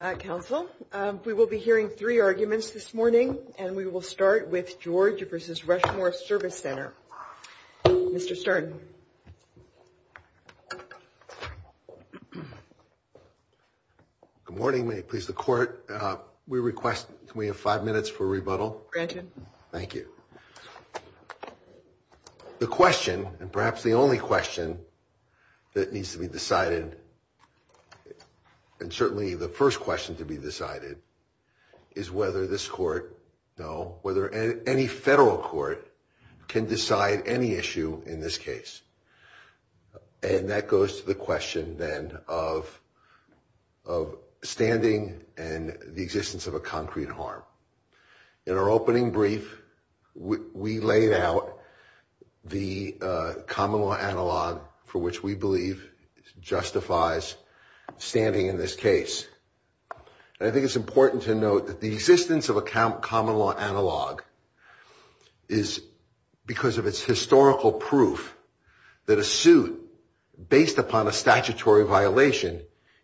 Council, we will be hearing three arguments this morning and we will start with George v. Rushmore Service Center. Mr. Stern. Good morning. May it please the court. We request we have five minutes for rebuttal. Thank you. The question and perhaps the only question that needs to be decided and certainly the first question to be decided is whether this court, no, whether any federal court can decide any issue in this case. And that goes to the question then of standing and the existence of a concrete harm. In our opening brief, we laid out the common law analog for which we believe justifies standing in this case. I think it's important to note that the existence of a common law analog is because of its historical proof that a suit based upon a statutory violation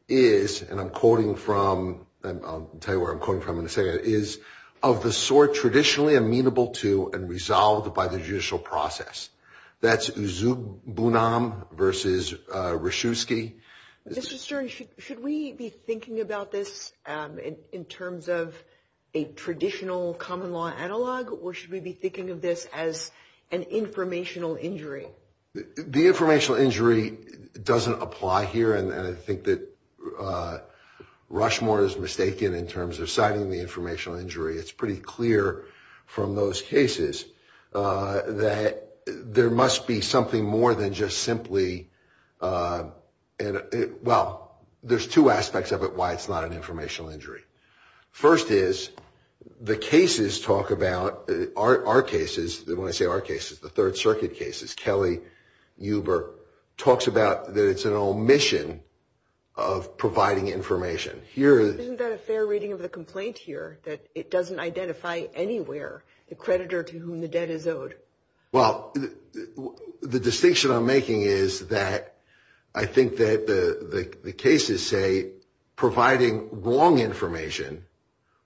is, and I'm quoting from, I'll tell you where I'm quoting from in a second, is of the sort traditionally amenable to and resolved by the judicial process. That's Uzub Bunam versus Ryszewski. Mr. Stern, should we be thinking about this in terms of a traditional common law analog or should we be thinking of this as an informational injury? The informational injury doesn't apply here and I think that Rushmore is mistaken in terms of citing the informational injury. It's pretty clear from those cases that there must be something more than just simply, well, there's two aspects of it why it's not an informational injury. First is the cases talk about, our cases, when I say our cases, the Third Circuit cases, Kelly, Uber, talks about that it's an omission of providing information. Isn't that a fair reading of the complaint here that it doesn't identify anywhere the creditor to whom the debt is owed? Well, the distinction I'm making is that I think that the cases say providing wrong information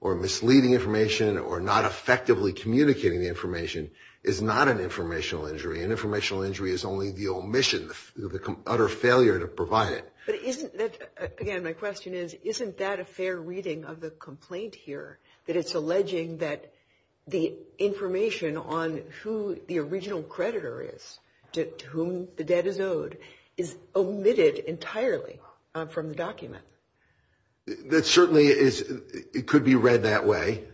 or misleading information or not effectively communicating the information is not an informational injury. An informational injury is only the omission, the utter failure to provide it. But isn't that, again, my question is, isn't that a fair reading of the complaint here that it's alleging that the information on who the original creditor is to whom the debt is owed is omitted entirely from the document? That certainly is, it could be read that way.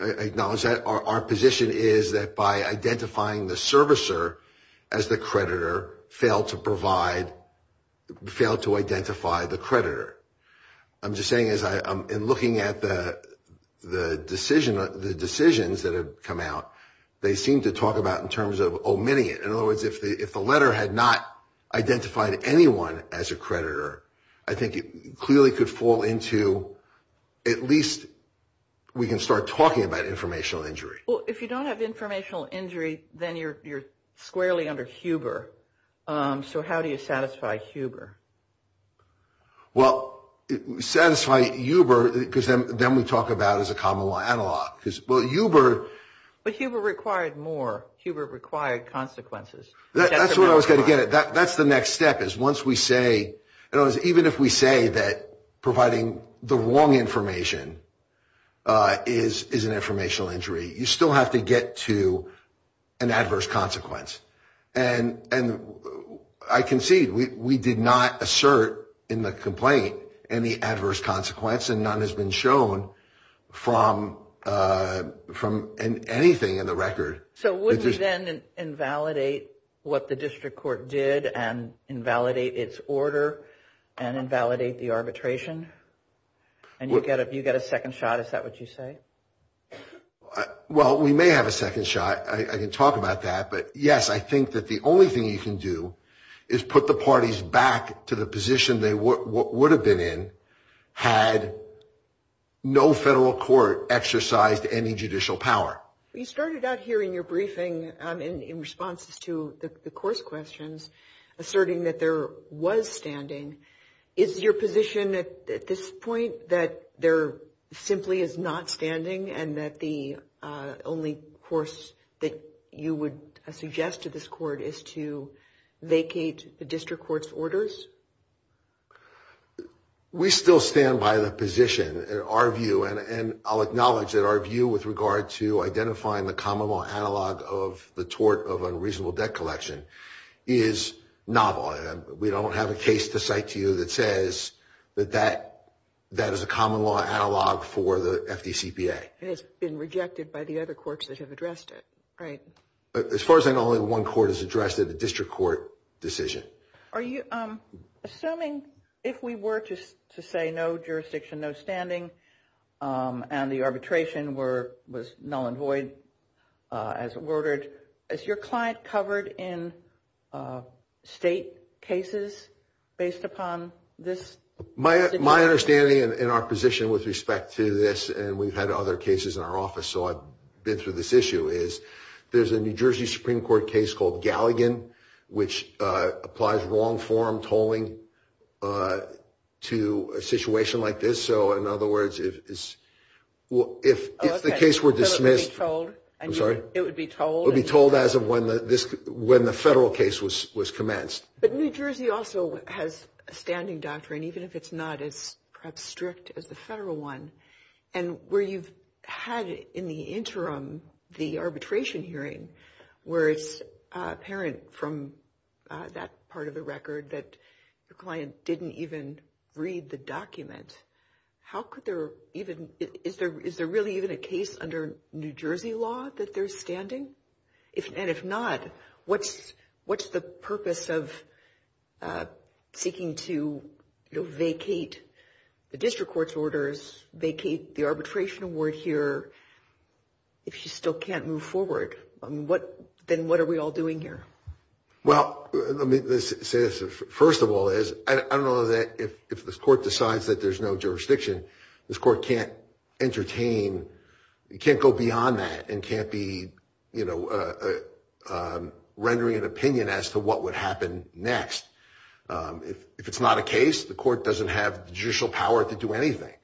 I acknowledge that our position is that by identifying the servicer as the creditor, fail to provide, fail to identify the creditor. I'm just saying as I'm looking at the decisions that have come out, they seem to talk about in terms of omitting it. In other words, if the letter had not identified anyone as a creditor, I think it clearly could fall into at least we can start talking about informational injury. Well, if you don't have informational injury, then you're squarely under Huber. So how do you satisfy Huber? Well, satisfy Huber, because then we talk about as a common law analog. But Huber required more, Huber required consequences. That's where I was going to get it. That's the next step is once we say, even if we say that providing the wrong information is an informational injury, you still have to get to an adverse consequence. And I concede, we did not assert in the complaint any adverse consequence and none has been shown from anything in the record. So would we then invalidate what the district court did and invalidate its order and invalidate the arbitration? And you get a second shot, is that what you say? Well, we may have a second shot. I can talk about that. But yes, I think that the only thing you can do is put the parties back to the position they would have been in had no federal court exercised any judicial power. You started out here in your briefing in response to the course questions, asserting that there was standing. Is your position at this point that there simply is not standing and that the only course that you would suggest to this court is to vacate the district court's orders? We still stand by the position, our view, and I'll acknowledge that our view with regard to identifying the common law analog of the tort of unreasonable debt collection is novel. We don't have a case to cite to you that says that that is a common law analog for the FDCPA. It has been rejected by the other courts that have addressed it, right? As far as I know, only one court has addressed it, the district court decision. Are you assuming if we were to say no jurisdiction, no standing, and the arbitration was null and void as ordered, is your client covered in state cases based upon this? My understanding in our position with respect to this, and we've had other cases in our office, so I've been through this issue, is there's a New Jersey Supreme Court case called Galligan, which applies wrong form tolling to a situation like this. So in other words, if the case were dismissed, it would be told as of when the federal case was commenced. But New Jersey also has a standing doctrine, even if it's not as perhaps strict as the federal one. And where you've had in the interim the arbitration hearing, where it's apparent from that part of the record that your client didn't even read the document, how could there even, is there really even a case under New Jersey law that there's standing? And if not, what's the purpose of seeking to vacate the district court's orders, vacate the arbitration award here, if you still can't move forward? I mean, then what are we all doing here? Well, let me say this. First of all is, I don't know that if this court decides that there's no jurisdiction, this court can't entertain, it can't go beyond that and can't be, you know, rendering an opinion as to what would happen next. If it's not a case, the court doesn't have judicial power to do anything.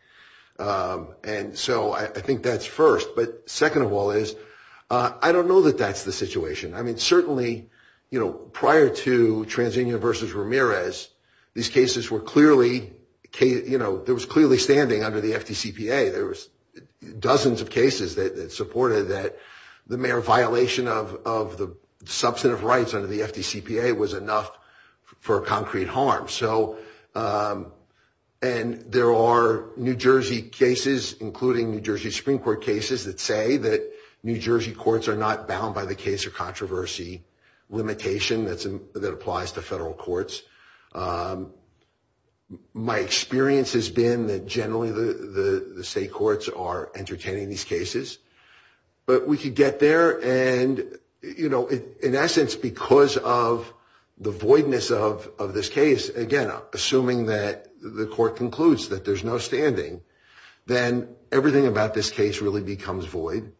And so I think that's first. But second of all is, I don't know that that's the situation. I mean, certainly, you know, prior to TransUnion versus Ramirez, these cases were clearly, you know, there was clearly standing under the FDCPA. There was dozens of cases that supported that the mere violation of the substantive rights under the FDCPA was enough for concrete harm. So, and there are New Jersey cases, including New Jersey Supreme Court cases, that say that New Jersey courts are not bound by the case of controversy limitation that applies to federal courts. My experience has been that generally the state courts are entertaining these cases. But we could get there and, you know, in essence, because of the voidness of this case, again, assuming that the court concludes that there's no standing, then everything about this case really becomes void.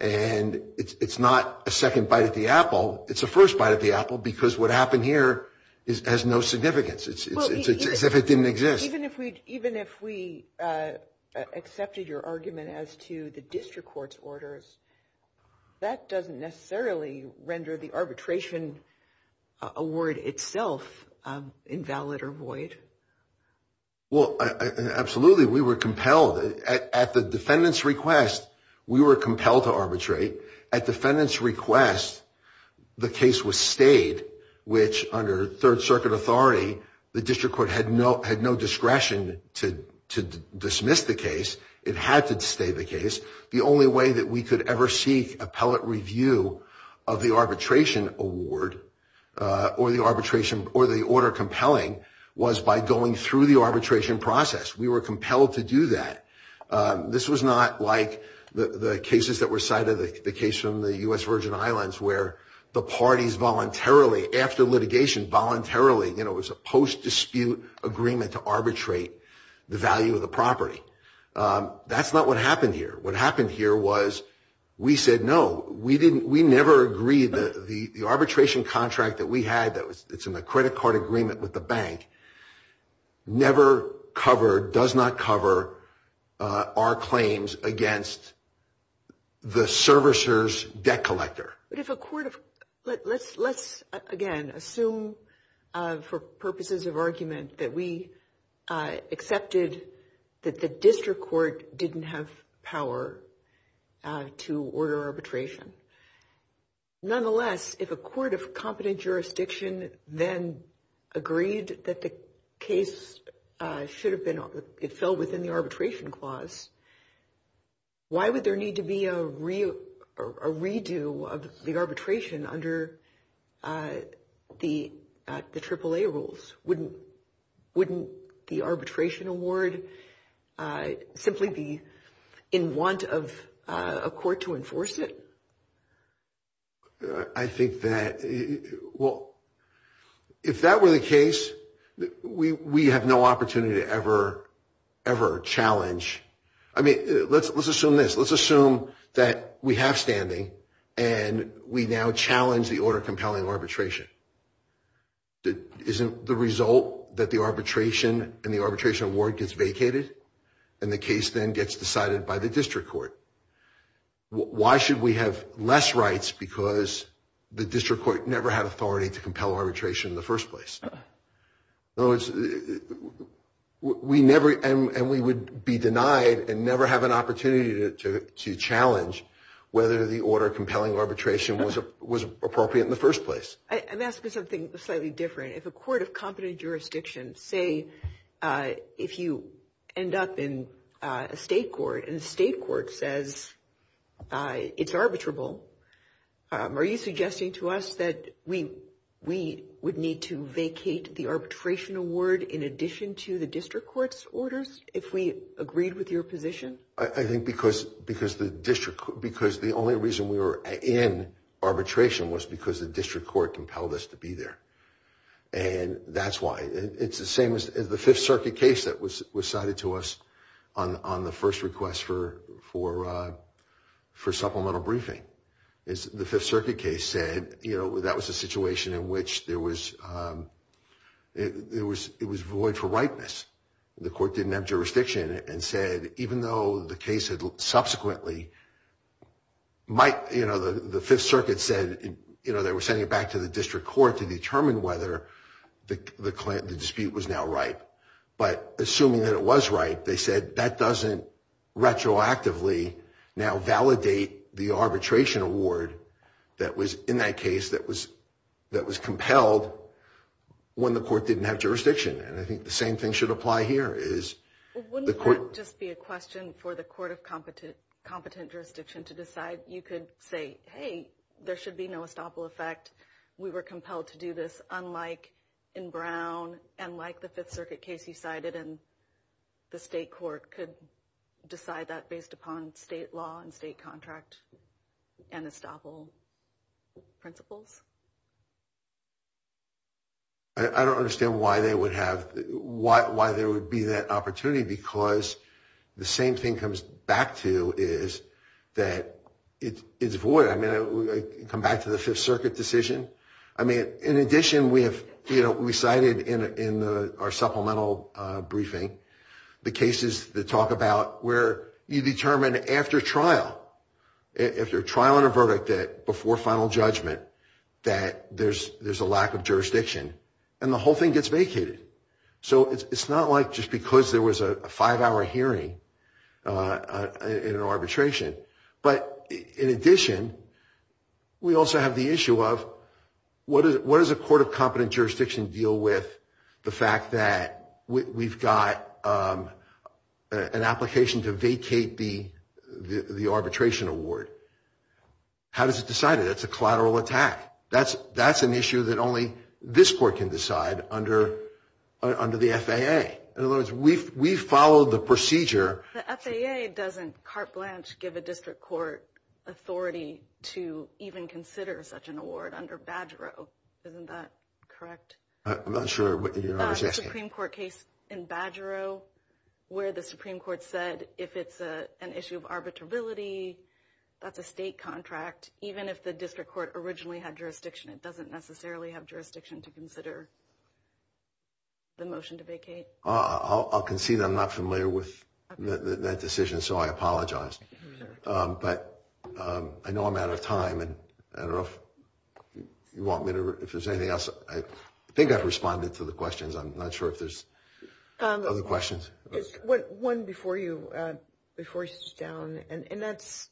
And it's not a second bite at the apple. It's a first bite at the apple because what happened here has no significance. It's as if it didn't exist. Even if we accepted your argument as to the district court's orders, that doesn't necessarily render the arbitration award itself invalid or void. Well, absolutely. We were compelled at the defendant's request. We were compelled to arbitrate. At defendant's request, the case was stayed, which under third circuit authority, the district court had no discretion to dismiss the case. It had to stay the case. The only way that we could ever seek appellate review of the arbitration award or the arbitration or the order compelling was by going through the arbitration process. We were compelled to do that. This was not like the cases that were cited, the case from the U.S. Virgin Islands where the parties voluntarily, after litigation, voluntarily, you know, it was a post-dispute agreement to arbitrate the value of the property. That's not what happened here. What happened here was we said, no, we didn't, we never agreed that the arbitration contract that we had that was, it's in the credit card agreement with the bank, never covered, does not cover our claims against the servicer's debt collector. But if a court of, let's, again, assume for purposes of argument that we accepted that the district court didn't have power to order arbitration. Nonetheless, if a court of competent jurisdiction then agreed that the case should have been, it fell within the arbitration clause, why would there need to be a redo of the arbitration under the AAA rules? Wouldn't the arbitration award simply be in want of a court to enforce it? I think that, well, if that were the case, we have no opportunity to ever, ever challenge. I mean, let's assume this. Let's assume that we have standing and we now challenge the order compelling arbitration. Isn't the result that the arbitration and the arbitration award gets vacated and the case then gets decided by the district court? Why should we have less rights? Because the district court never had authority to compel arbitration in the first place. In other words, we never, and we would be denied and never have an opportunity to challenge whether the order compelling arbitration was appropriate in the first place. I'm asking something slightly different. If a court of competent jurisdiction, say, if you end up in a state court and the state court says it's arbitrable, are you suggesting to us that we we would need to vacate the arbitration award in addition to the district court's orders if we agreed with your position? I think because the only reason we were in arbitration was because the district court compelled us to be there. And that's why. It's the same as the Fifth Circuit case that was cited to us on the first request for supplemental briefing. The Fifth Circuit case said that was a situation in which it was void for rightness. The court didn't have jurisdiction and said, even though the case subsequently might, you know, the Fifth Circuit said, you know, they were sending it back to the district court to determine whether the dispute was now right. But assuming that it was right, they said that doesn't retroactively now validate the arbitration award that was in that case that was compelled when the court didn't have jurisdiction. And I think the same thing should apply here is the court. Just be a question for the court of competent, competent jurisdiction to decide. You could say, hey, there should be no estoppel effect. We were compelled to do this, unlike in Brown and like the Fifth Circuit case you cited. And the state court could decide that based upon state law and state contract and estoppel principles. I don't understand why they would have, why there would be that opportunity because the same thing comes back to is that it's void. I mean, come back to the Fifth Circuit decision. I mean, in addition, we have, you know, we cited in our supplemental briefing the cases that talk about where you determine after trial, after trial and a verdict that before final judgment that there's a lack of jurisdiction. And the whole thing gets vacated. So it's not like just because there was a five-hour hearing in an arbitration. But in addition, we also have the issue of what does a court of competent jurisdiction deal with the fact that we've got an application to vacate the arbitration award? How does it decide it? It's a collateral attack. That's an issue that only this court can decide under the FAA. In other words, we follow the procedure. The FAA doesn't, carte blanche, give a district court authority to even consider such an award under Badgero. Isn't that correct? I'm not sure what you're asking. Supreme Court case in Badgero where the Supreme Court said if it's an issue of arbitrability, that's a state contract. Even if the district court originally had jurisdiction, it doesn't necessarily have jurisdiction to consider the motion to vacate. I'll concede I'm not familiar with that decision, so I apologize. But I know I'm out of time, and I don't know if you want me to, if there's anything else. I think I've responded to the questions. I'm not sure if there's other questions. One before you, before you sit down, and that's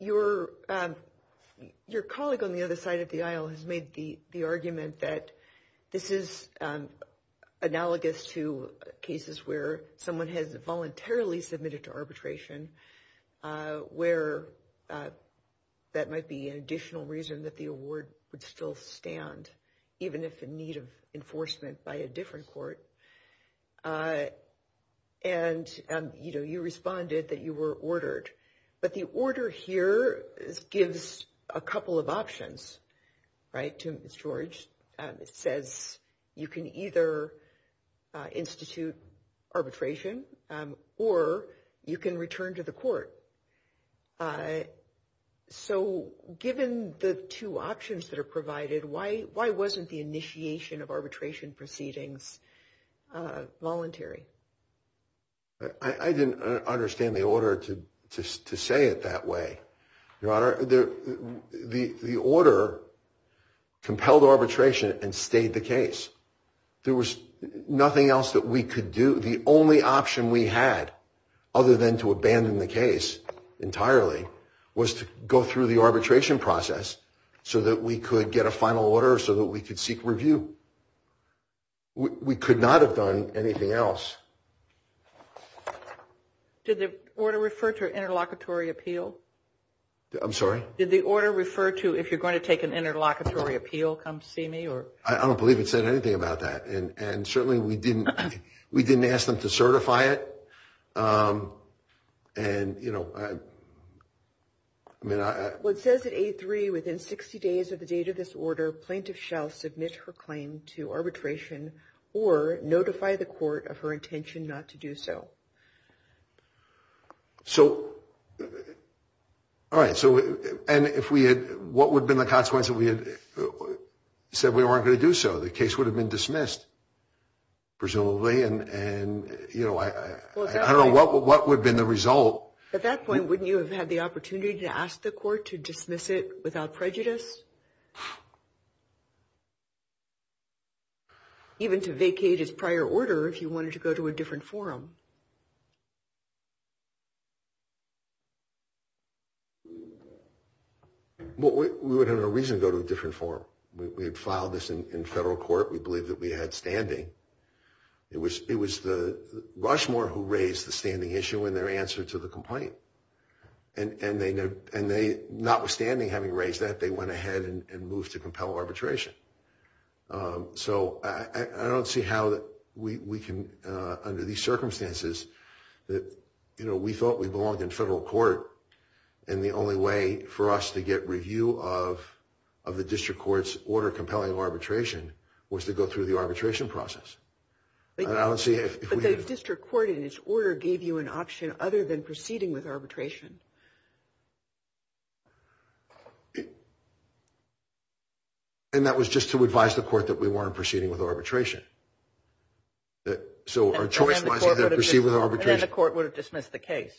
your colleague on the other side of the aisle has made the argument that this is analogous to cases where someone has voluntarily submitted to arbitration, where that might be an additional reason that the award would still stand, even if in need of enforcement by a different court. And, you know, you responded that you were ordered. But the order here gives a couple of options, right, to Ms. George. It says you can either institute arbitration or you can return to the court. So given the two options that are provided, why wasn't the initiation of arbitration proceedings voluntary? I didn't understand the order to say it that way. Your Honor, the order compelled arbitration and stayed the case. There was nothing else that we could do. The only option we had, other than to abandon the case entirely, was to go through the arbitration process so that we could get a final order so that we could seek review. We could not have done anything else. Did the order refer to an interlocutory appeal? I'm sorry? Did the order refer to if you're going to take an interlocutory appeal, come see me? I don't believe it said anything about that. And certainly we didn't ask them to certify it. And, you know, I mean, I... It says that A3, within 60 days of the date of this order, plaintiff shall submit her claim to arbitration or notify the court of her intention not to do so. So, all right, so, and if we had, what would have been the consequence if we had said we weren't going to do so? The case would have been dismissed, presumably, and, you know, I don't know what would have been the result. At that point, wouldn't you have had the opportunity to ask the court to dismiss it without prejudice? Even to vacate his prior order if you wanted to go to a different forum? Well, we would, under no reason, go to a different forum. We had filed this in federal court. We believed that we had standing. It was the Rushmore who raised the standing issue in their answer to the complaint. And they, notwithstanding having raised that, they went ahead and moved to compel arbitration. So I don't see how we can, under these circumstances, that, you know, we thought we belonged in federal court, and the only way for us to get review of the district court's order compelling arbitration was to go through the arbitration process. But the district court, in its order, gave you an option other than proceeding with arbitration. And that was just to advise the court that we weren't proceeding with arbitration. So our choice was to proceed with arbitration. And then the court would have dismissed the case.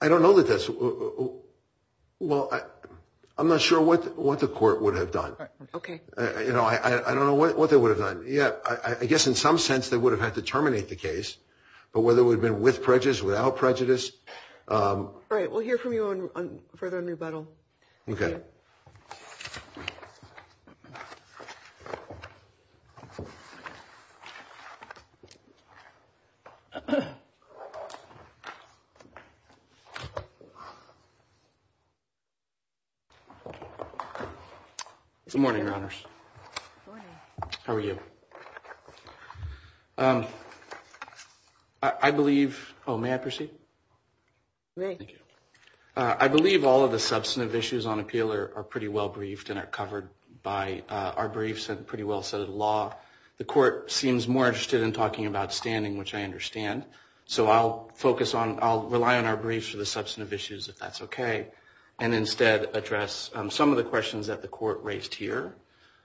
I don't know that that's, well, I'm not sure what the court would have done. You know, I don't know what they would have done. Yeah, I guess in some sense, they would have had to terminate the case. But whether it would have been with prejudice, without prejudice. All right, we'll hear from you further on rebuttal. Okay. Good morning, Your Honors. Good morning. How are you? I believe, oh, may I proceed? Great. Thank you. I believe all of the substantive issues on appeal are pretty well briefed and are covered by our briefs and pretty well set in law. The court seems more interested in talking about standing, which I understand. So I'll focus on, I'll rely on our briefs for the substantive issues, if that's okay, and instead address some of the questions that the court raised here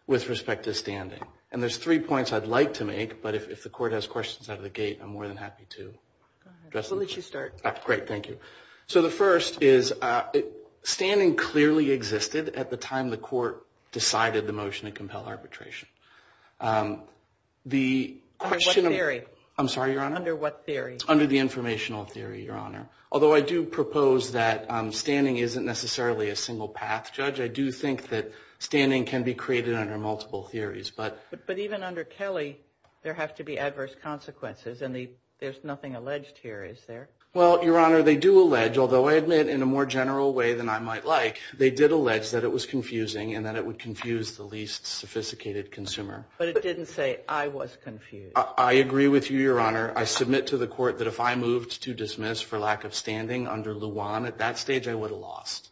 with respect to standing. And there's three points I'd like to make, but if the court has questions out of the gate, I'm more than happy to address them. We'll let you start. Great. Thank you. So the first is standing clearly existed at the time the court decided the motion to compel arbitration. Under what theory? I'm sorry, Your Honor? Under what theory? Under the informational theory, Your Honor. Although I do propose that standing isn't necessarily a single path, Judge. I do think that standing can be created under multiple theories. But even under Kelly, there have to be adverse consequences, and there's nothing alleged here, is there? Well, Your Honor, they do allege, although I admit in a more general way than I might like, they did allege that it was confusing and that it would confuse the least sophisticated consumer. But it didn't say I was confused. I agree with you, Your Honor. I submit to the court that if I moved to dismiss for lack of standing under Luan, at that stage I would have lost.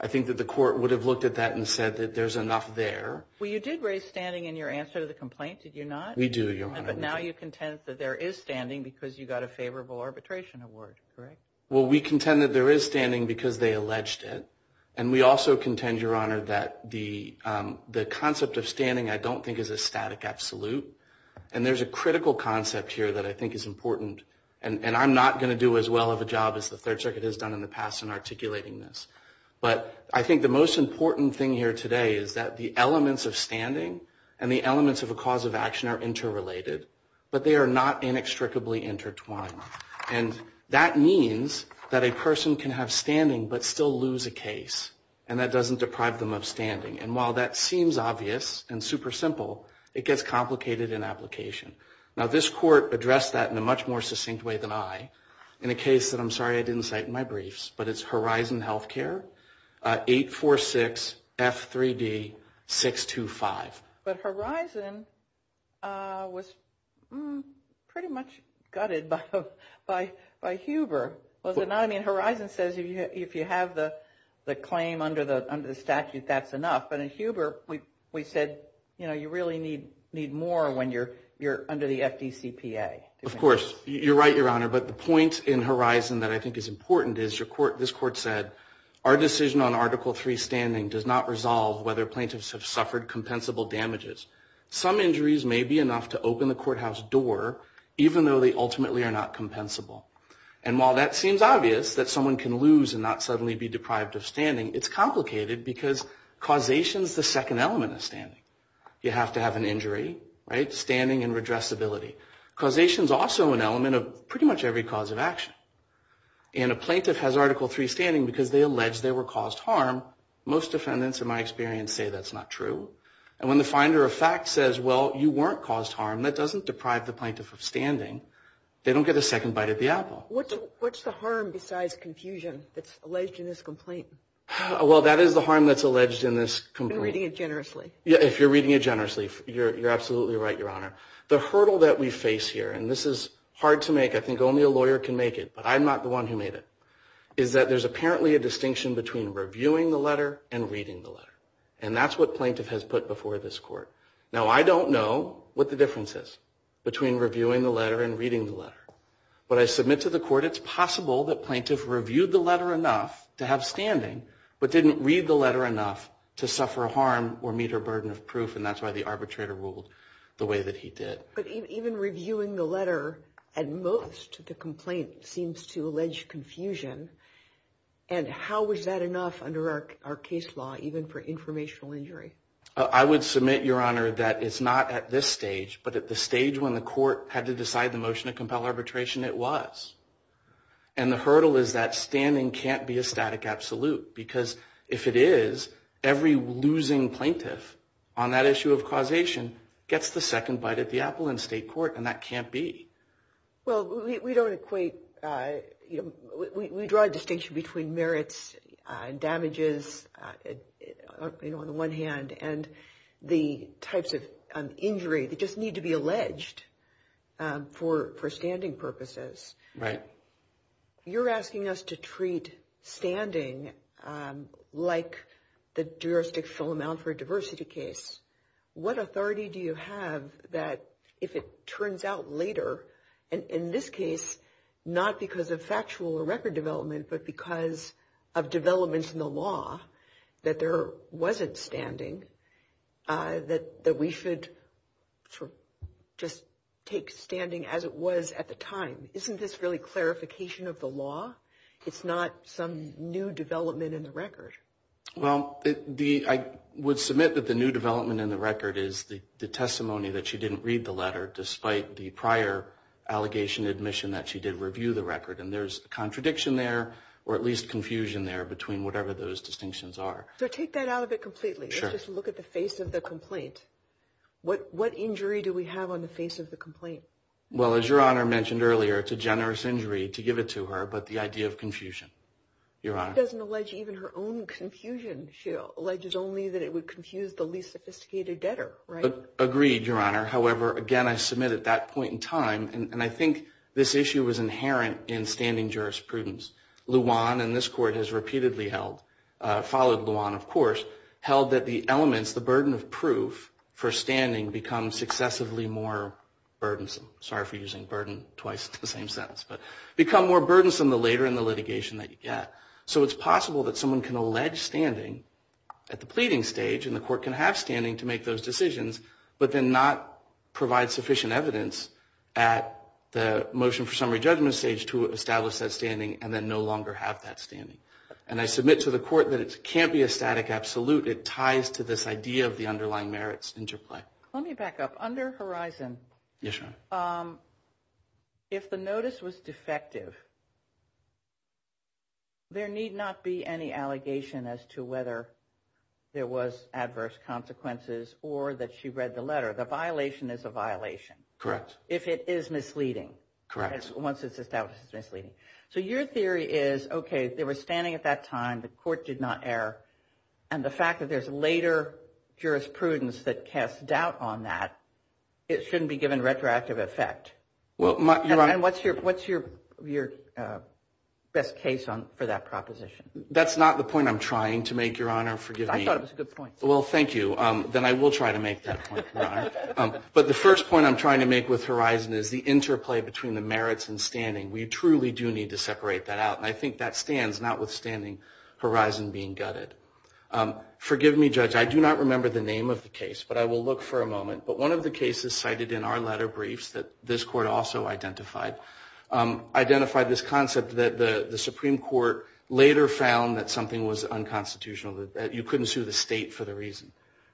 I think that the court would have looked at that and said that there's enough there. Well, you did raise standing in your answer to the complaint, did you not? We do, Your Honor. But now you contend that there is standing because you got a favorable arbitration award, correct? Well, we contend that there is standing because they alleged it. And we also contend, Your Honor, that the concept of standing I don't think is a static absolute. And there's a critical concept here that I think is important. And I'm not going to do as well of a job as the Third Circuit has done in the past in articulating this. But I think the most important thing here today is that the elements of standing and the elements of a cause of action are interrelated, but they are not inextricably intertwined. And that means that a person can have standing but still lose a case, and that doesn't deprive them of standing. And while that seems obvious and super simple, it gets complicated in application. Now, this court addressed that in a much more succinct way than I in a case that I'm sorry I didn't cite in my briefs, but it's Horizon Healthcare, 846F3D625. But Horizon was pretty much gutted by Huber, was it not? I mean, Horizon says if you have the claim under the statute, that's enough. But in Huber, we said, you know, you really need more when you're under the FDCPA. Of course. You're right, Your Honor. But the point in Horizon that I think is important is this court said, our decision on Article III standing does not resolve whether plaintiffs have suffered compensable damages. Some injuries may be enough to open the courthouse door, even though they ultimately are not compensable. And while that seems obvious, that someone can lose and not suddenly be deprived of standing, it's complicated because causation is the second element of standing. You have to have an injury, right, standing and redressability. Causation is also an element of pretty much every cause of action. And a plaintiff has Article III standing because they allege they were caused harm. Most defendants, in my experience, say that's not true. And when the finder of fact says, well, you weren't caused harm, that doesn't deprive the plaintiff of standing. They don't get a second bite at the apple. What's the harm besides confusion that's alleged in this complaint? Well, that is the harm that's alleged in this complaint. I'm reading it generously. If you're reading it generously, you're absolutely right, Your Honor. The hurdle that we face here, and this is hard to make. I think only a lawyer can make it, but I'm not the one who made it, is that there's apparently a distinction between reviewing the letter and reading the letter. And that's what plaintiff has put before this court. Now, I don't know what the difference is between reviewing the letter and reading the letter. But I submit to the court it's possible that plaintiff reviewed the letter enough to have standing but didn't read the letter enough to suffer harm or meet her burden of proof. And that's why the arbitrator ruled the way that he did. But even reviewing the letter, at most, the complaint seems to allege confusion. And how is that enough under our case law, even for informational injury? I would submit, Your Honor, that it's not at this stage, but at the stage when the court had to decide the motion to compel arbitration, it was. And the hurdle is that standing can't be a static absolute, because if it is, every losing plaintiff on that issue of causation gets the second bite at the apple in state court, and that can't be. Well, we don't equate. We draw a distinction between merits and damages, you know, on the one hand, and the types of injury that just need to be alleged for standing purposes. Right. You're asking us to treat standing like the jurisdictional amount for a diversity case. What authority do you have that, if it turns out later, and in this case not because of factual or record development, but because of developments in the law that there wasn't standing, that we should just take standing as it was at the time? Isn't this really clarification of the law? It's not some new development in the record. Well, I would submit that the new development in the record is the testimony that she didn't read the letter, despite the prior allegation admission that she did review the record. And there's contradiction there, or at least confusion there, between whatever those distinctions are. So take that out of it completely. Let's just look at the face of the complaint. What injury do we have on the face of the complaint? Well, as Your Honor mentioned earlier, it's a generous injury to give it to her, but the idea of confusion, Your Honor. She doesn't allege even her own confusion. She alleges only that it would confuse the least sophisticated debtor, right? Agreed, Your Honor. However, again, I submit at that point in time, and I think this issue was inherent in standing jurisprudence, Luan, and this Court has repeatedly held, followed Luan, of course, held that the elements, the burden of proof for standing become successively more burdensome. Sorry for using burden twice in the same sentence. But become more burdensome the later in the litigation that you get. So it's possible that someone can allege standing at the pleading stage and the Court can have standing to make those decisions, but then not provide sufficient evidence at the motion for summary judgment stage to establish that standing and then no longer have that standing. And I submit to the Court that it can't be a static absolute. It ties to this idea of the underlying merits interplay. Let me back up. Under Horizon, if the notice was defective, there need not be any allegation as to whether there was adverse consequences or that she read the letter. The violation is a violation. Correct. If it is misleading. Correct. Once it's established it's misleading. So your theory is, okay, they were standing at that time, the Court did not err, and the fact that there's later jurisprudence that casts doubt on that, it shouldn't be given retroactive effect. And what's your best case for that proposition? That's not the point I'm trying to make, Your Honor. Forgive me. I thought it was a good point. Well, thank you. Then I will try to make that point, Your Honor. But the first point I'm trying to make with Horizon is the interplay between the merits and standing. We truly do need to separate that out. And I think that stands, notwithstanding Horizon being gutted. Forgive me, Judge. I do not remember the name of the case, but I will look for a moment. But one of the cases cited in our letter briefs that this Court also identified, identified this concept that the Supreme Court later found that something was unconstitutional, that you couldn't sue the state for the reason.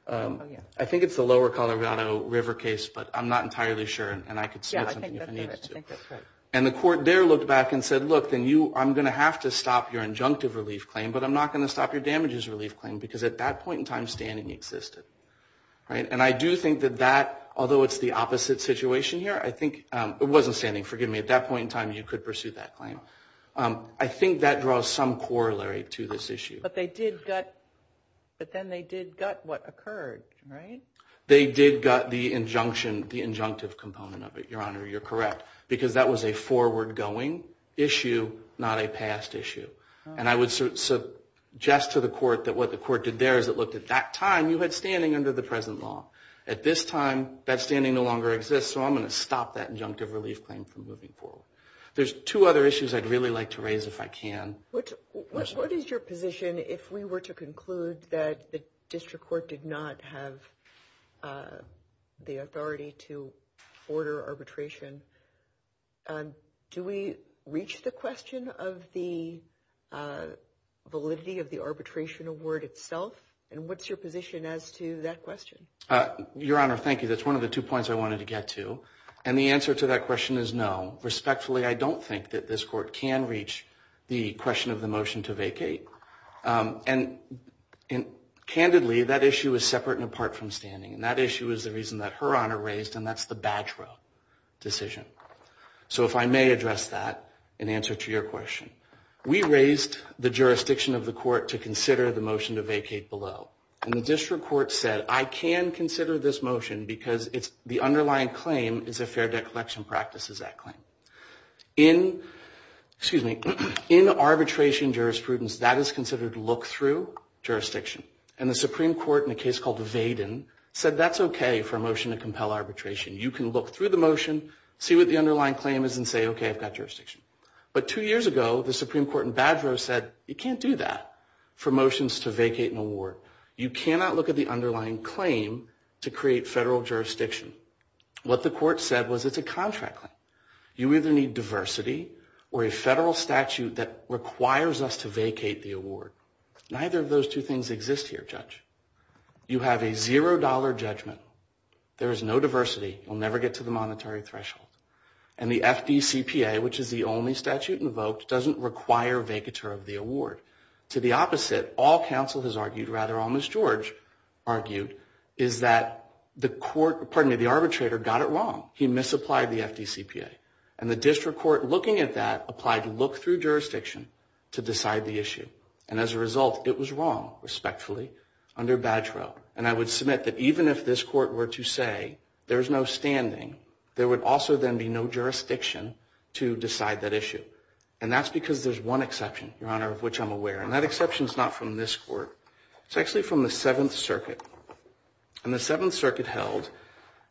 I think it's the lower Colorado River case, but I'm not entirely sure, and I could submit something if I needed to. I think that's correct. And the Court there looked back and said, look, I'm going to have to stop your injunctive relief claim, but I'm not going to stop your damages relief claim because at that point in time, standing existed. And I do think that that, although it's the opposite situation here, I think it wasn't standing. Forgive me. At that point in time, you could pursue that claim. I think that draws some corollary to this issue. But then they did gut what occurred, right? They did gut the injunctive component of it, Your Honor. You're correct. Because that was a forward-going issue, not a past issue. And I would suggest to the Court that what the Court did there is it looked at that time, you had standing under the present law. At this time, that standing no longer exists, so I'm going to stop that injunctive relief claim from moving forward. There's two other issues I'd really like to raise if I can. What is your position if we were to conclude that the district court did not have the authority to order arbitration? Do we reach the question of the validity of the arbitration award itself? And what's your position as to that question? Your Honor, thank you. That's one of the two points I wanted to get to. And the answer to that question is no. Respectfully, I don't think that this Court can reach the question of the motion to vacate. And candidly, that issue is separate and apart from standing. And that issue is the reason that Her Honor raised, and that's the badge row decision. So if I may address that in answer to your question. We raised the jurisdiction of the Court to consider the motion to vacate below. And the district court said, I can consider this motion because the underlying claim is a fair debt collection practice is that claim. In arbitration jurisprudence, that is considered look-through jurisdiction. And the Supreme Court in a case called Vaden said that's okay for a motion to compel arbitration. You can look through the motion, see what the underlying claim is, and say, okay, I've got jurisdiction. But two years ago, the Supreme Court in badge row said, you can't do that for motions to vacate an award. You cannot look at the underlying claim to create federal jurisdiction. What the Court said was it's a contract claim. You either need diversity or a federal statute that requires us to vacate the award. Neither of those two things exist here, Judge. You have a zero-dollar judgment. There is no diversity. We'll never get to the monetary threshold. And the FDCPA, which is the only statute invoked, doesn't require vacatur of the award. To the opposite, all counsel has argued, rather almost George argued, is that the arbitrator got it wrong. He misapplied the FDCPA. And the district court, looking at that, applied look-through jurisdiction to decide the issue. And as a result, it was wrong, respectfully, under badge row. And I would submit that even if this court were to say there's no standing, there would also then be no jurisdiction to decide that issue. And that's because there's one exception, Your Honor, of which I'm aware. And that exception is not from this court. It's actually from the Seventh Circuit. And the Seventh Circuit held,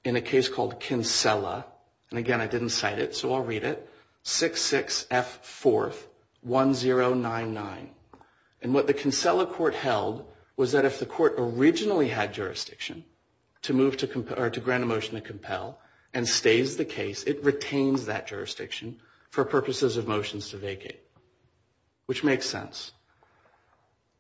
in a case called Kinsella, and, again, I didn't cite it, so I'll read it, 66F41099. And what the Kinsella court held was that if the court originally had jurisdiction to grant a motion to compel and stays the case, it retains that jurisdiction for purposes of motions to vacate, which makes sense.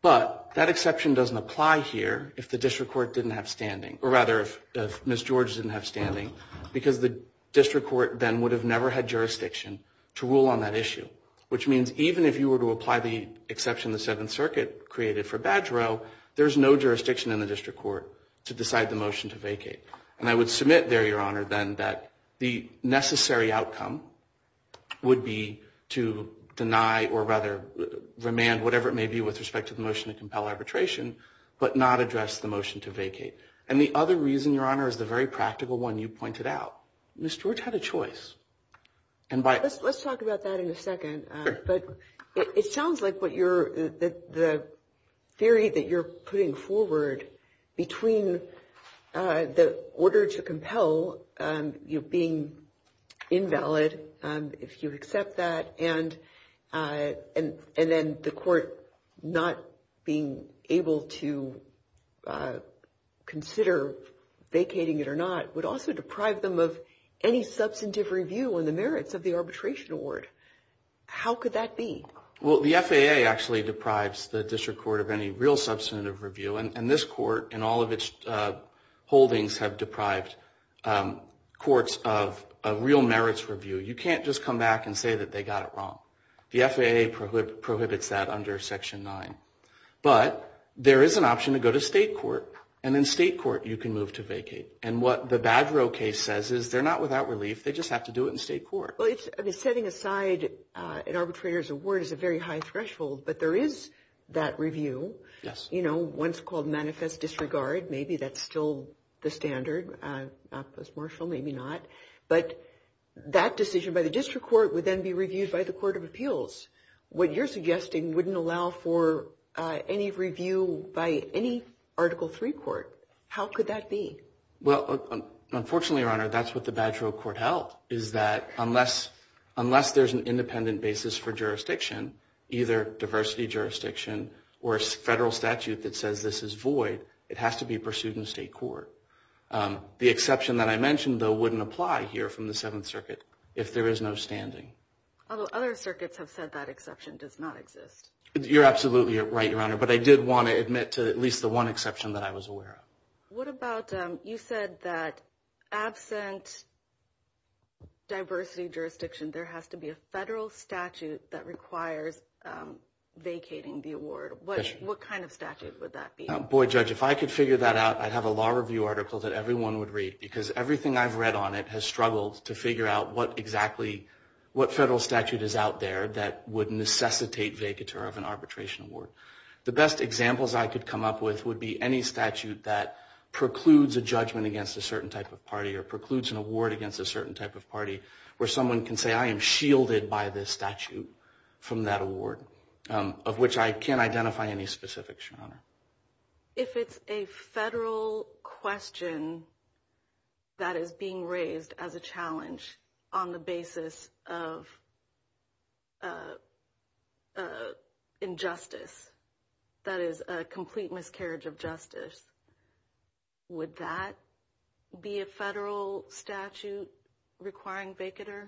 But that exception doesn't apply here if the district court didn't have standing, or rather if Ms. George didn't have standing, because the district court then would have never had jurisdiction to rule on that issue, which means even if you were to apply the exception the Seventh Circuit created for badge row, there's no jurisdiction in the district court to decide the motion to vacate. And I would submit there, Your Honor, then, that the necessary outcome would be to deny, or rather remand, whatever it may be with respect to the motion to compel arbitration, but not address the motion to vacate. And the other reason, Your Honor, is the very practical one you pointed out. Ms. George had a choice. Let's talk about that in a second. But it sounds like the theory that you're putting forward between the order to compel being invalid, if you accept that, and then the court not being able to consider vacating it or not would also deprive them of any substantive review on the merits of the arbitration award. How could that be? Well, the FAA actually deprives the district court of any real substantive review, and this court and all of its holdings have deprived courts of real merits review. You can't just come back and say that they got it wrong. The FAA prohibits that under Section 9. But there is an option to go to state court, and in state court you can move to vacate. And what the badge row case says is they're not without relief. They just have to do it in state court. Well, setting aside an arbitrator's award is a very high threshold, but there is that review. Yes. You know, one's called manifest disregard. Maybe that's still the standard, not post-martial, maybe not. But that decision by the district court would then be reviewed by the court of appeals. What you're suggesting wouldn't allow for any review by any Article III court. How could that be? Well, unfortunately, Your Honor, that's what the badge row court held, is that unless there's an independent basis for jurisdiction, either diversity jurisdiction or a federal statute that says this is void, it has to be pursued in state court. The exception that I mentioned, though, wouldn't apply here from the Seventh Circuit, if there is no standing. Although other circuits have said that exception does not exist. You're absolutely right, Your Honor. But I did want to admit to at least the one exception that I was aware of. What about you said that absent diversity jurisdiction, there has to be a federal statute that requires vacating the award. What kind of statute would that be? Boy, Judge, if I could figure that out, I'd have a law review article that everyone would read because everything I've read on it has struggled to figure out what exactly, what federal statute is out there that would necessitate vacature of an arbitration award. The best examples I could come up with would be any statute that precludes a judgment against a certain type of party or precludes an award against a certain type of party where someone can say I am shielded by this statute from that award, of which I can't identify any specifics, Your Honor. If it's a federal question that is being raised as a challenge on the basis of injustice, that is a complete miscarriage of justice, would that be a federal statute requiring vacater?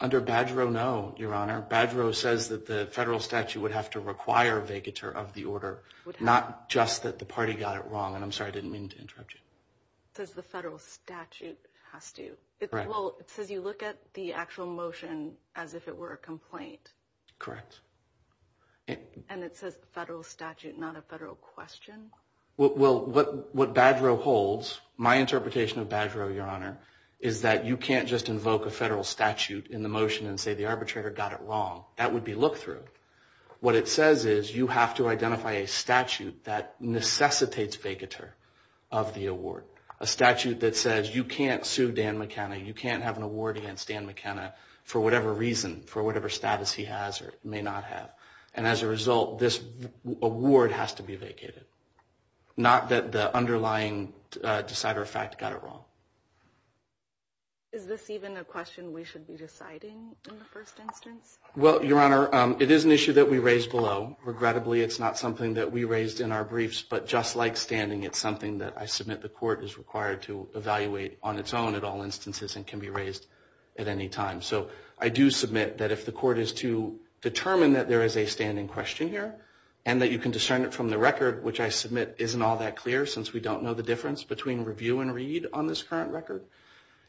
Under Badgerow, no, Your Honor. Badgerow says that the federal statute would have to require vacater of the order, not just that the party got it wrong. And I'm sorry, I didn't mean to interrupt you. It says the federal statute has to. Well, it says you look at the actual motion as if it were a complaint. Correct. And it says federal statute, not a federal question? You can't just invoke a federal statute in the motion and say the arbitrator got it wrong. That would be look-through. What it says is you have to identify a statute that necessitates vacater of the award, a statute that says you can't sue Dan McKenna, you can't have an award against Dan McKenna for whatever reason, for whatever status he has or may not have. And as a result, this award has to be vacated, not that the underlying decider of fact got it wrong. Is this even a question we should be deciding in the first instance? Well, Your Honor, it is an issue that we raised below. Regrettably, it's not something that we raised in our briefs, but just like standing, it's something that I submit the court is required to evaluate on its own at all instances and can be raised at any time. So I do submit that if the court is to determine that there is a standing question here and that you can discern it from the record, which I submit isn't all that clear since we don't know the difference between review and read on this current record,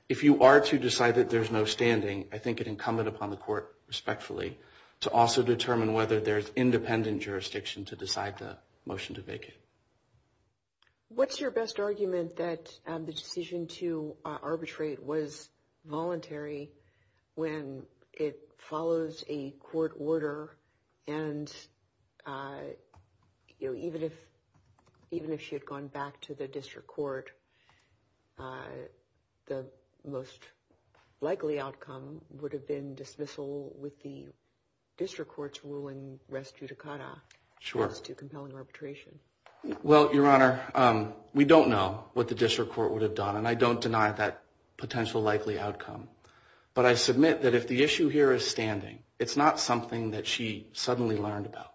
if you are to decide that there's no standing, I think it incumbent upon the court, respectfully, to also determine whether there's independent jurisdiction to decide the motion to vacate. What's your best argument that the decision to arbitrate was voluntary when it follows a court order and even if she had gone back to the district court, the most likely outcome would have been dismissal with the district court's ruling res judicata as to compelling arbitration? Well, Your Honor, we don't know what the district court would have done, and I don't deny that potential likely outcome, but I submit that if the issue here is standing, it's not something that she suddenly learned about.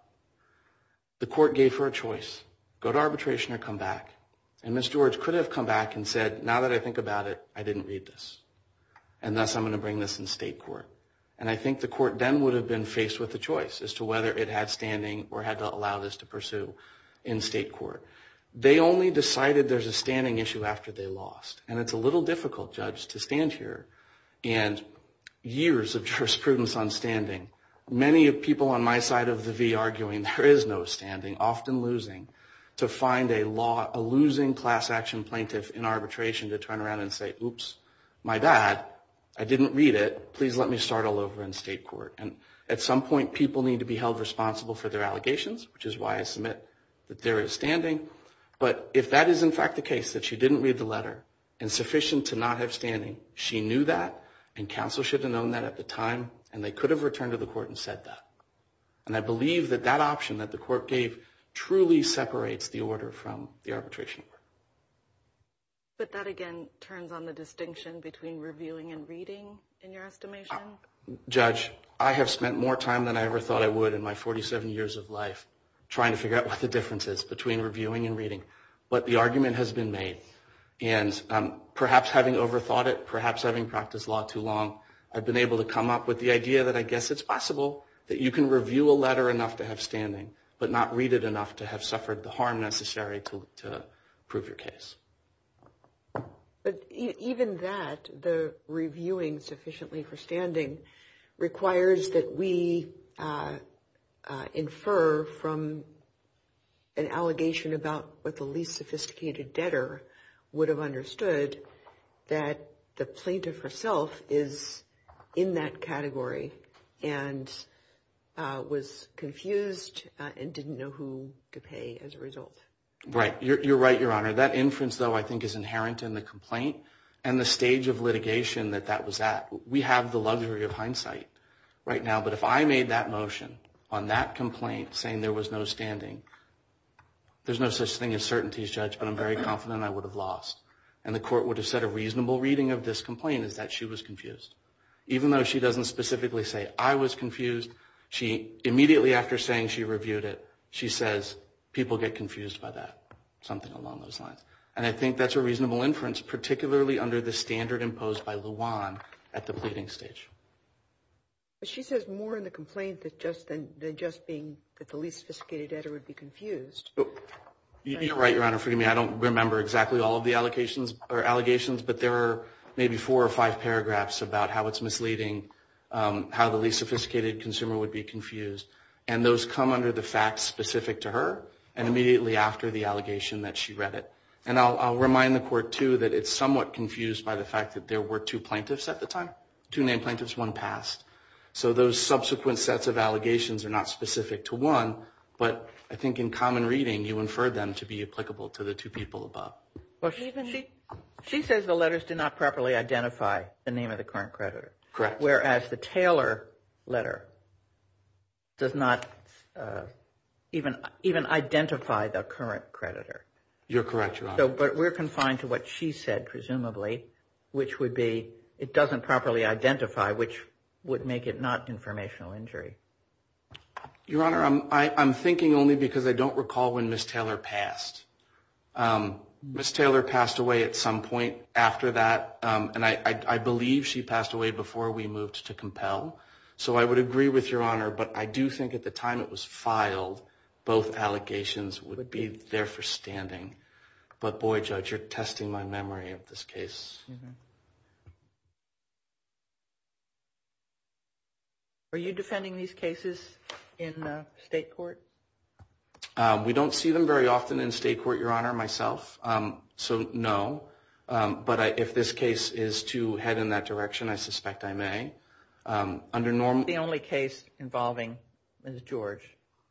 The court gave her a choice, go to arbitration or come back, and Ms. George could have come back and said, now that I think about it, I didn't read this, and thus I'm going to bring this in state court. And I think the court then would have been faced with a choice as to whether it had standing or had to allow this to pursue in state court. They only decided there's a standing issue after they lost, and it's a little difficult, Judge, to stand here. And years of jurisprudence on standing, many people on my side of the V arguing there is no standing, often losing, to find a losing class action plaintiff in arbitration to turn around and say, oops, my bad, I didn't read it, please let me start all over in state court. And at some point, people need to be held responsible for their allegations, which is why I submit that there is standing. But if that is, in fact, the case, that she didn't read the letter, insufficient to not have standing, she knew that, and counsel should have known that at the time, and they could have returned to the court and said that. And I believe that that option that the court gave truly separates the order from the arbitration. But that, again, turns on the distinction between reviewing and reading, in your estimation. Judge, I have spent more time than I ever thought I would in my 47 years of life trying to figure out what the difference is between reviewing and reading. But the argument has been made, and perhaps having overthought it, perhaps having practiced law too long, I've been able to come up with the idea that I guess it's possible that you can review a letter enough to have standing, but not read it enough to have suffered the harm necessary to prove your case. But even that, the reviewing sufficiently for standing, requires that we infer from an allegation about what the least sophisticated debtor would have understood, that the plaintiff herself is in that category and was confused and didn't know who to pay as a result. Right. You're right, Your Honor. That inference, though, I think is inherent in the complaint and the stage of litigation that that was at. We have the luxury of hindsight right now. But if I made that motion on that complaint, saying there was no standing, there's no such thing as certainties, Judge, but I'm very confident I would have lost. And the court would have said a reasonable reading of this complaint is that she was confused. Even though she doesn't specifically say, I was confused, she immediately after saying she reviewed it, she says, people get confused by that, something along those lines. And I think that's a reasonable inference, particularly under the standard imposed by Luan at the pleading stage. She says more in the complaint than just being that the least sophisticated debtor would be confused. You're right, Your Honor. Forgive me, I don't remember exactly all of the allegations, but there are maybe four or five paragraphs about how it's misleading, how the least sophisticated consumer would be confused. And those come under the facts specific to her, and immediately after the allegation that she read it. And I'll remind the court, too, that it's somewhat confused by the fact that there were two plaintiffs at the time. Two named plaintiffs, one passed. So those subsequent sets of allegations are not specific to one, but I think in common reading you inferred them to be applicable to the two people above. She says the letters did not properly identify the name of the current creditor. Correct. Whereas the Taylor letter does not even identify the current creditor. You're correct, Your Honor. But we're confined to what she said, presumably, which would be it doesn't properly identify, which would make it not informational injury. Your Honor, I'm thinking only because I don't recall when Ms. Taylor passed. Ms. Taylor passed away at some point after that, and I believe she passed away before we moved to compel. So I would agree with Your Honor, but I do think at the time it was filed, both allegations would be there for standing. But, boy, Judge, you're testing my memory of this case. Are you defending these cases in state court? We don't see them very often in state court, Your Honor, myself. So, no. But if this case is to head in that direction, I suspect I may. The only case involving Ms. George.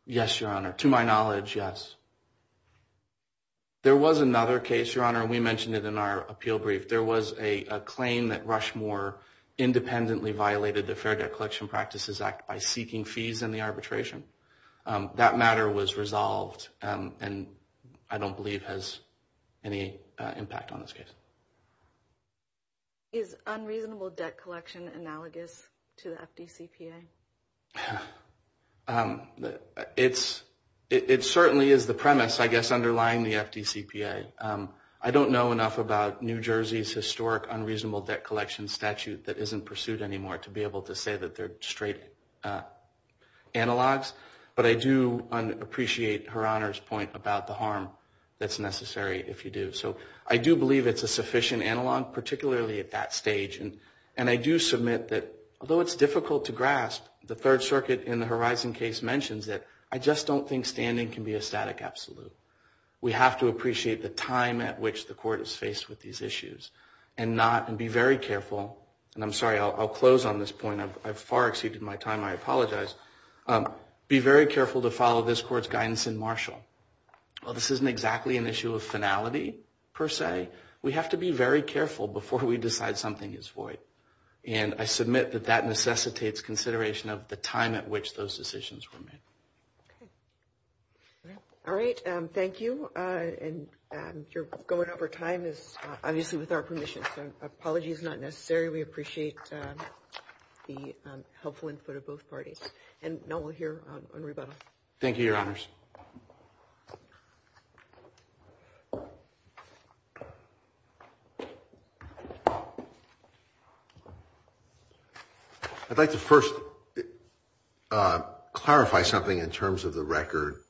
Yes, Your Honor. To my knowledge, yes. There was another case, Your Honor, and we mentioned it in our appeal brief. There was a claim that Rushmore independently violated the Fair Debt Collection Practices Act by seeking fees in the arbitration. That matter was resolved, and I don't believe has any impact on this case. Is unreasonable debt collection analogous to the FDCPA? It certainly is the premise, I guess, underlying the FDCPA. I don't know enough about New Jersey's historic unreasonable debt collection statute that isn't pursued anymore to be able to say that they're straight analogs. But I do appreciate Her Honor's point about the harm that's necessary if you do. So I do believe it's a sufficient analog, particularly at that stage. And I do submit that, although it's difficult to grasp, the Third Circuit in the Horizon case mentions it. I just don't think standing can be a static absolute. We have to appreciate the time at which the court is faced with these issues and be very careful. And I'm sorry, I'll close on this point. I've far exceeded my time. I apologize. Be very careful to follow this court's guidance in Marshall. While this isn't exactly an issue of finality, per se, we have to be very careful before we decide something is void. And I submit that that necessitates consideration of the time at which those decisions were made. Okay. All right. Thank you. And you're going over time, obviously, with our permission. So apologies is not necessary. We appreciate the helpful input of both parties. And now we'll hear on rebuttal. Thank you, Your Honors. I'd like to first clarify something in terms of the record,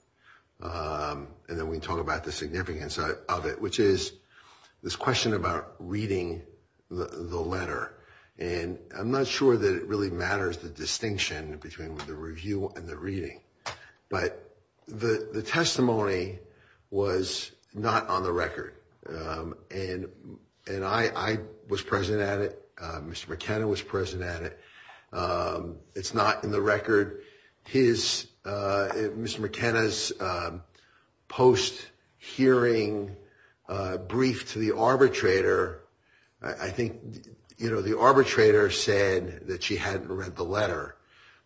and then we can talk about the significance of it, which is this question about reading the letter. And I'm not sure that it really matters, the distinction between the review and the reading. But the testimony was not on the record. And I was present at it. Mr. McKenna was present at it. It's not in the record. His, Mr. McKenna's post-hearing brief to the arbitrator, I think, you know, the arbitrator said that she hadn't read the letter.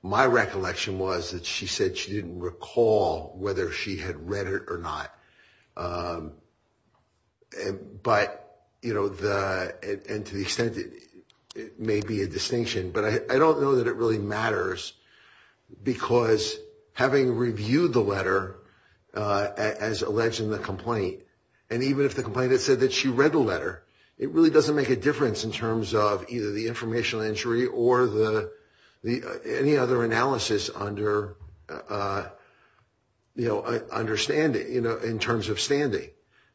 My recollection was that she said she didn't recall whether she had read it or not. But, you know, and to the extent it may be a distinction. But I don't know that it really matters because having reviewed the letter as alleged in the complaint, and even if the complainant said that she read the letter, it really doesn't make a difference in terms of either the informational injury or any other analysis under, you know, understanding, you know, in terms of standing.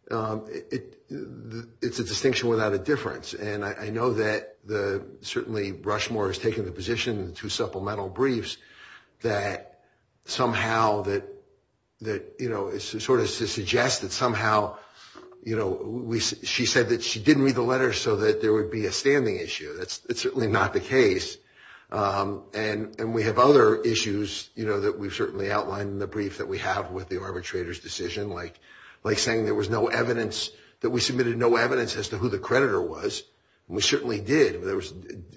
It's a distinction without a difference. And I know that certainly Rushmore has taken the position in the two supplemental briefs that somehow that, you know, sort of to suggest that somehow, you know, she said that she didn't read the letter so that there would be a standing issue. That's certainly not the case. And we have other issues, you know, that we've certainly outlined in the brief that we have with the arbitrator's decision, like saying there was no evidence, that we submitted no evidence as to who the creditor was. And we certainly did.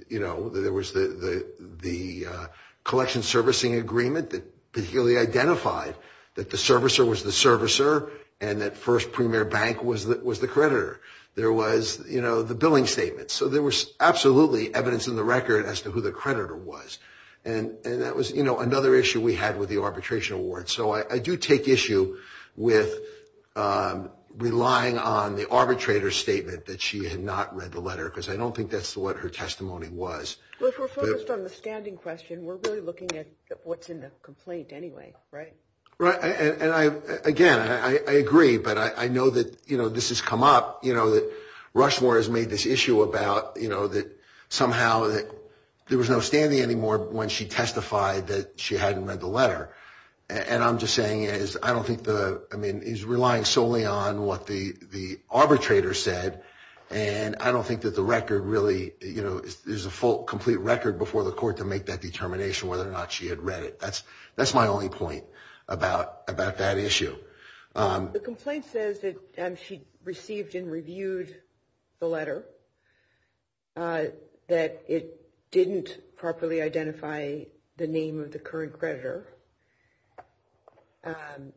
You know, there was the collection servicing agreement that particularly identified that the servicer was the servicer and that First Premier Bank was the creditor. There was, you know, the billing statement. So there was absolutely evidence in the record as to who the creditor was. And that was, you know, another issue we had with the arbitration award. And so I do take issue with relying on the arbitrator's statement that she had not read the letter, because I don't think that's what her testimony was. Well, if we're focused on the standing question, we're really looking at what's in the complaint anyway, right? Right. And, again, I agree. But I know that, you know, this has come up, you know, that Rushmore has made this issue about, you know, that somehow there was no standing anymore when she testified that she hadn't read the letter. And I'm just saying is I don't think the ‑‑ I mean, he's relying solely on what the arbitrator said. And I don't think that the record really, you know, there's a full complete record before the court to make that determination whether or not she had read it. That's my only point about that issue. The complaint says that she received and reviewed the letter, that it didn't properly identify the name of the current creditor, and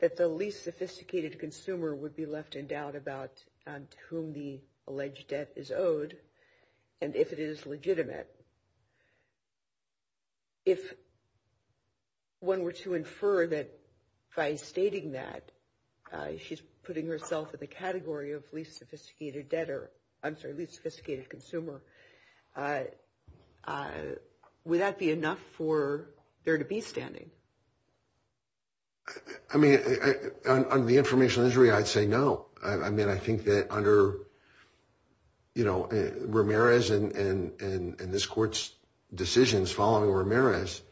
that the least sophisticated consumer would be left in doubt about to whom the alleged debt is owed and if it is legitimate. If one were to infer that by stating that she's putting herself in the category of least sophisticated debtor, I'm sorry, least sophisticated consumer, would that be enough for there to be standing? I mean, under the informational injury, I'd say no. I mean, I think that under, you know, Ramirez and this court's decisions following Ramirez,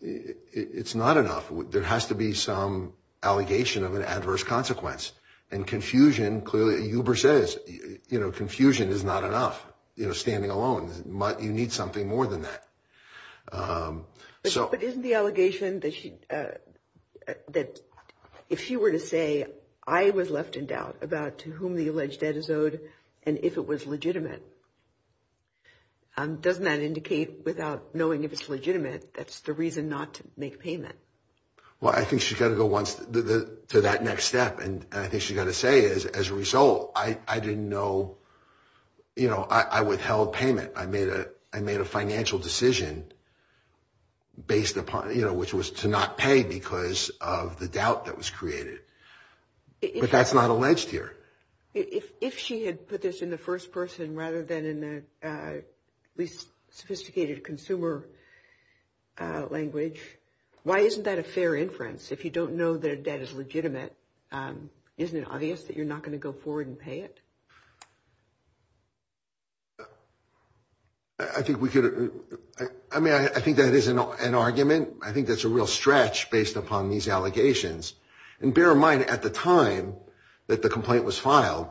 it's not enough. There has to be some allegation of an adverse consequence. And confusion, clearly, Huber says, you know, confusion is not enough, you know, standing alone. You need something more than that. But isn't the allegation that if she were to say, I was left in doubt about to whom the alleged debt is owed and if it was legitimate, doesn't that indicate without knowing if it's legitimate, that's the reason not to make payment? Well, I think she's got to go once to that next step. And I think she's got to say, as a result, I didn't know, you know, I withheld payment. I made a financial decision based upon, you know, which was to not pay because of the doubt that was created. But that's not alleged here. If she had put this in the first person rather than in the least sophisticated consumer language, why isn't that a fair inference? If you don't know their debt is legitimate, isn't it obvious that you're not going to go forward and pay it? I think we could. I mean, I think that is an argument. I think that's a real stretch based upon these allegations. And bear in mind, at the time that the complaint was filed,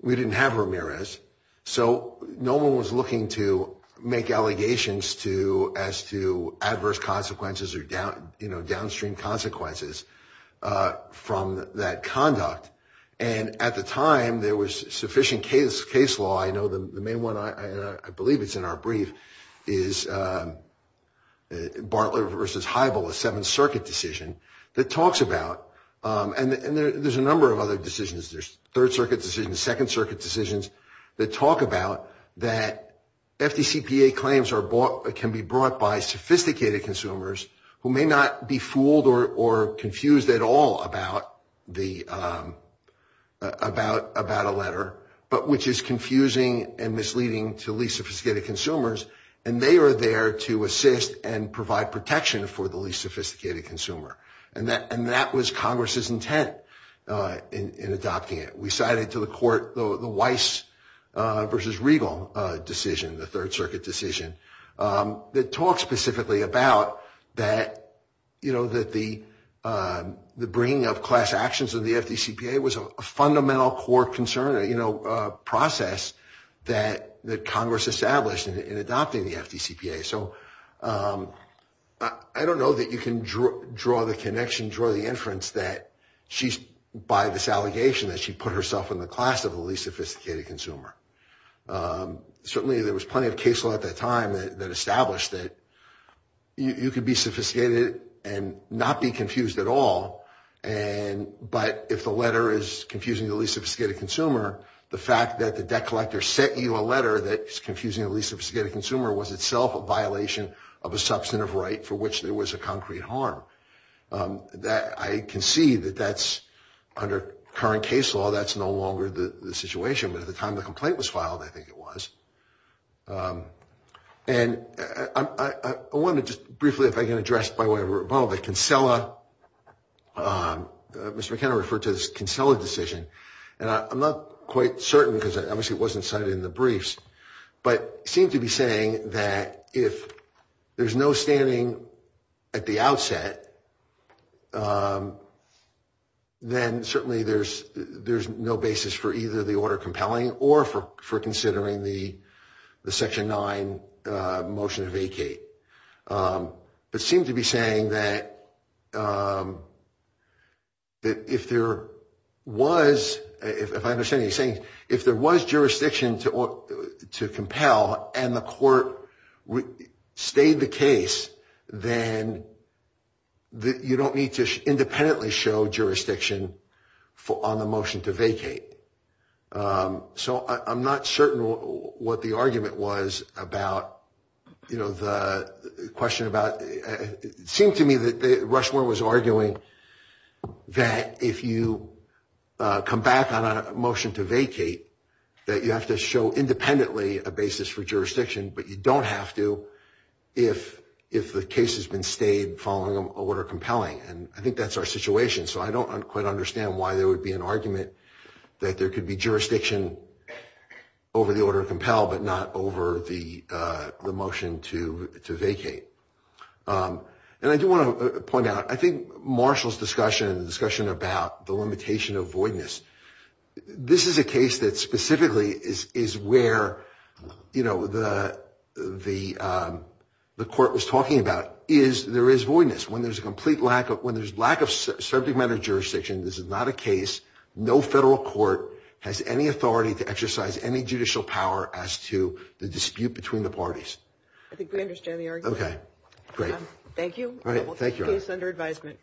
we didn't have Ramirez. So no one was looking to make allegations as to adverse consequences or, you know, downstream consequences from that conduct. And at the time there was sufficient case law. I know the main one, I believe it's in our brief, is Bartlett versus Heibel, a Seventh Circuit decision that talks about. And there's a number of other decisions. There's Third Circuit decisions, Second Circuit decisions that talk about that FDCPA claims can be brought by sophisticated consumers who may not be fooled or confused at all about a letter, but which is confusing and misleading to least sophisticated consumers. And they are there to assist and provide protection for the least sophisticated consumer. And that was Congress's intent in adopting it. We cited to the court the Weiss versus Regal decision, the Third Circuit decision, that talks specifically about that, you know, that the bringing of class actions in the FDCPA was a fundamental core concern, you know, a process that Congress established in adopting the FDCPA. So I don't know that you can draw the connection, draw the inference that she's, by this allegation that she put herself in the class of the least sophisticated consumer. Certainly there was plenty of case law at that time that established that you could be sophisticated and not be confused at all. But if the letter is confusing the least sophisticated consumer, the fact that the debt collector sent you a letter that's confusing the least sophisticated consumer was itself a violation of a substantive right for which there was a concrete harm. I can see that that's, under current case law, that's no longer the situation. But at the time the complaint was filed, I think it was. And I want to just briefly, if I can address by way of rebuttal, the Kinsella, Mr. McKenna referred to this Kinsella decision. And I'm not quite certain because it obviously wasn't cited in the briefs, but it seemed to be saying that if there's no standing at the outset, then certainly there's no basis for either the order compelling or for considering the Section 9 motion to vacate. But it seemed to be saying that if there was, if I understand what he's saying, if there was jurisdiction to compel and the court stayed the case, then you don't need to independently show jurisdiction on the motion to vacate. So I'm not certain what the argument was about, you know, the question about, it seemed to me that Rushmore was arguing that if you come back on a motion to vacate, that you have to show independently a basis for jurisdiction, but you don't have to if the case has been stayed following an order compelling. And I think that's our situation. So I don't quite understand why there would be an argument that there could be jurisdiction over the order of compel, but not over the motion to vacate. And I do want to point out, I think Marshall's discussion, the discussion about the limitation of voidness, this is a case that specifically is where, you know, the court was talking about is there is voidness. When there's a complete lack of, when there's lack of subject matter jurisdiction, this is not a case, no federal court has any authority to exercise any judicial power as to the dispute between the parties. I think we understand the argument. Okay, great. Thank you. All right, thank you. Case under advisement.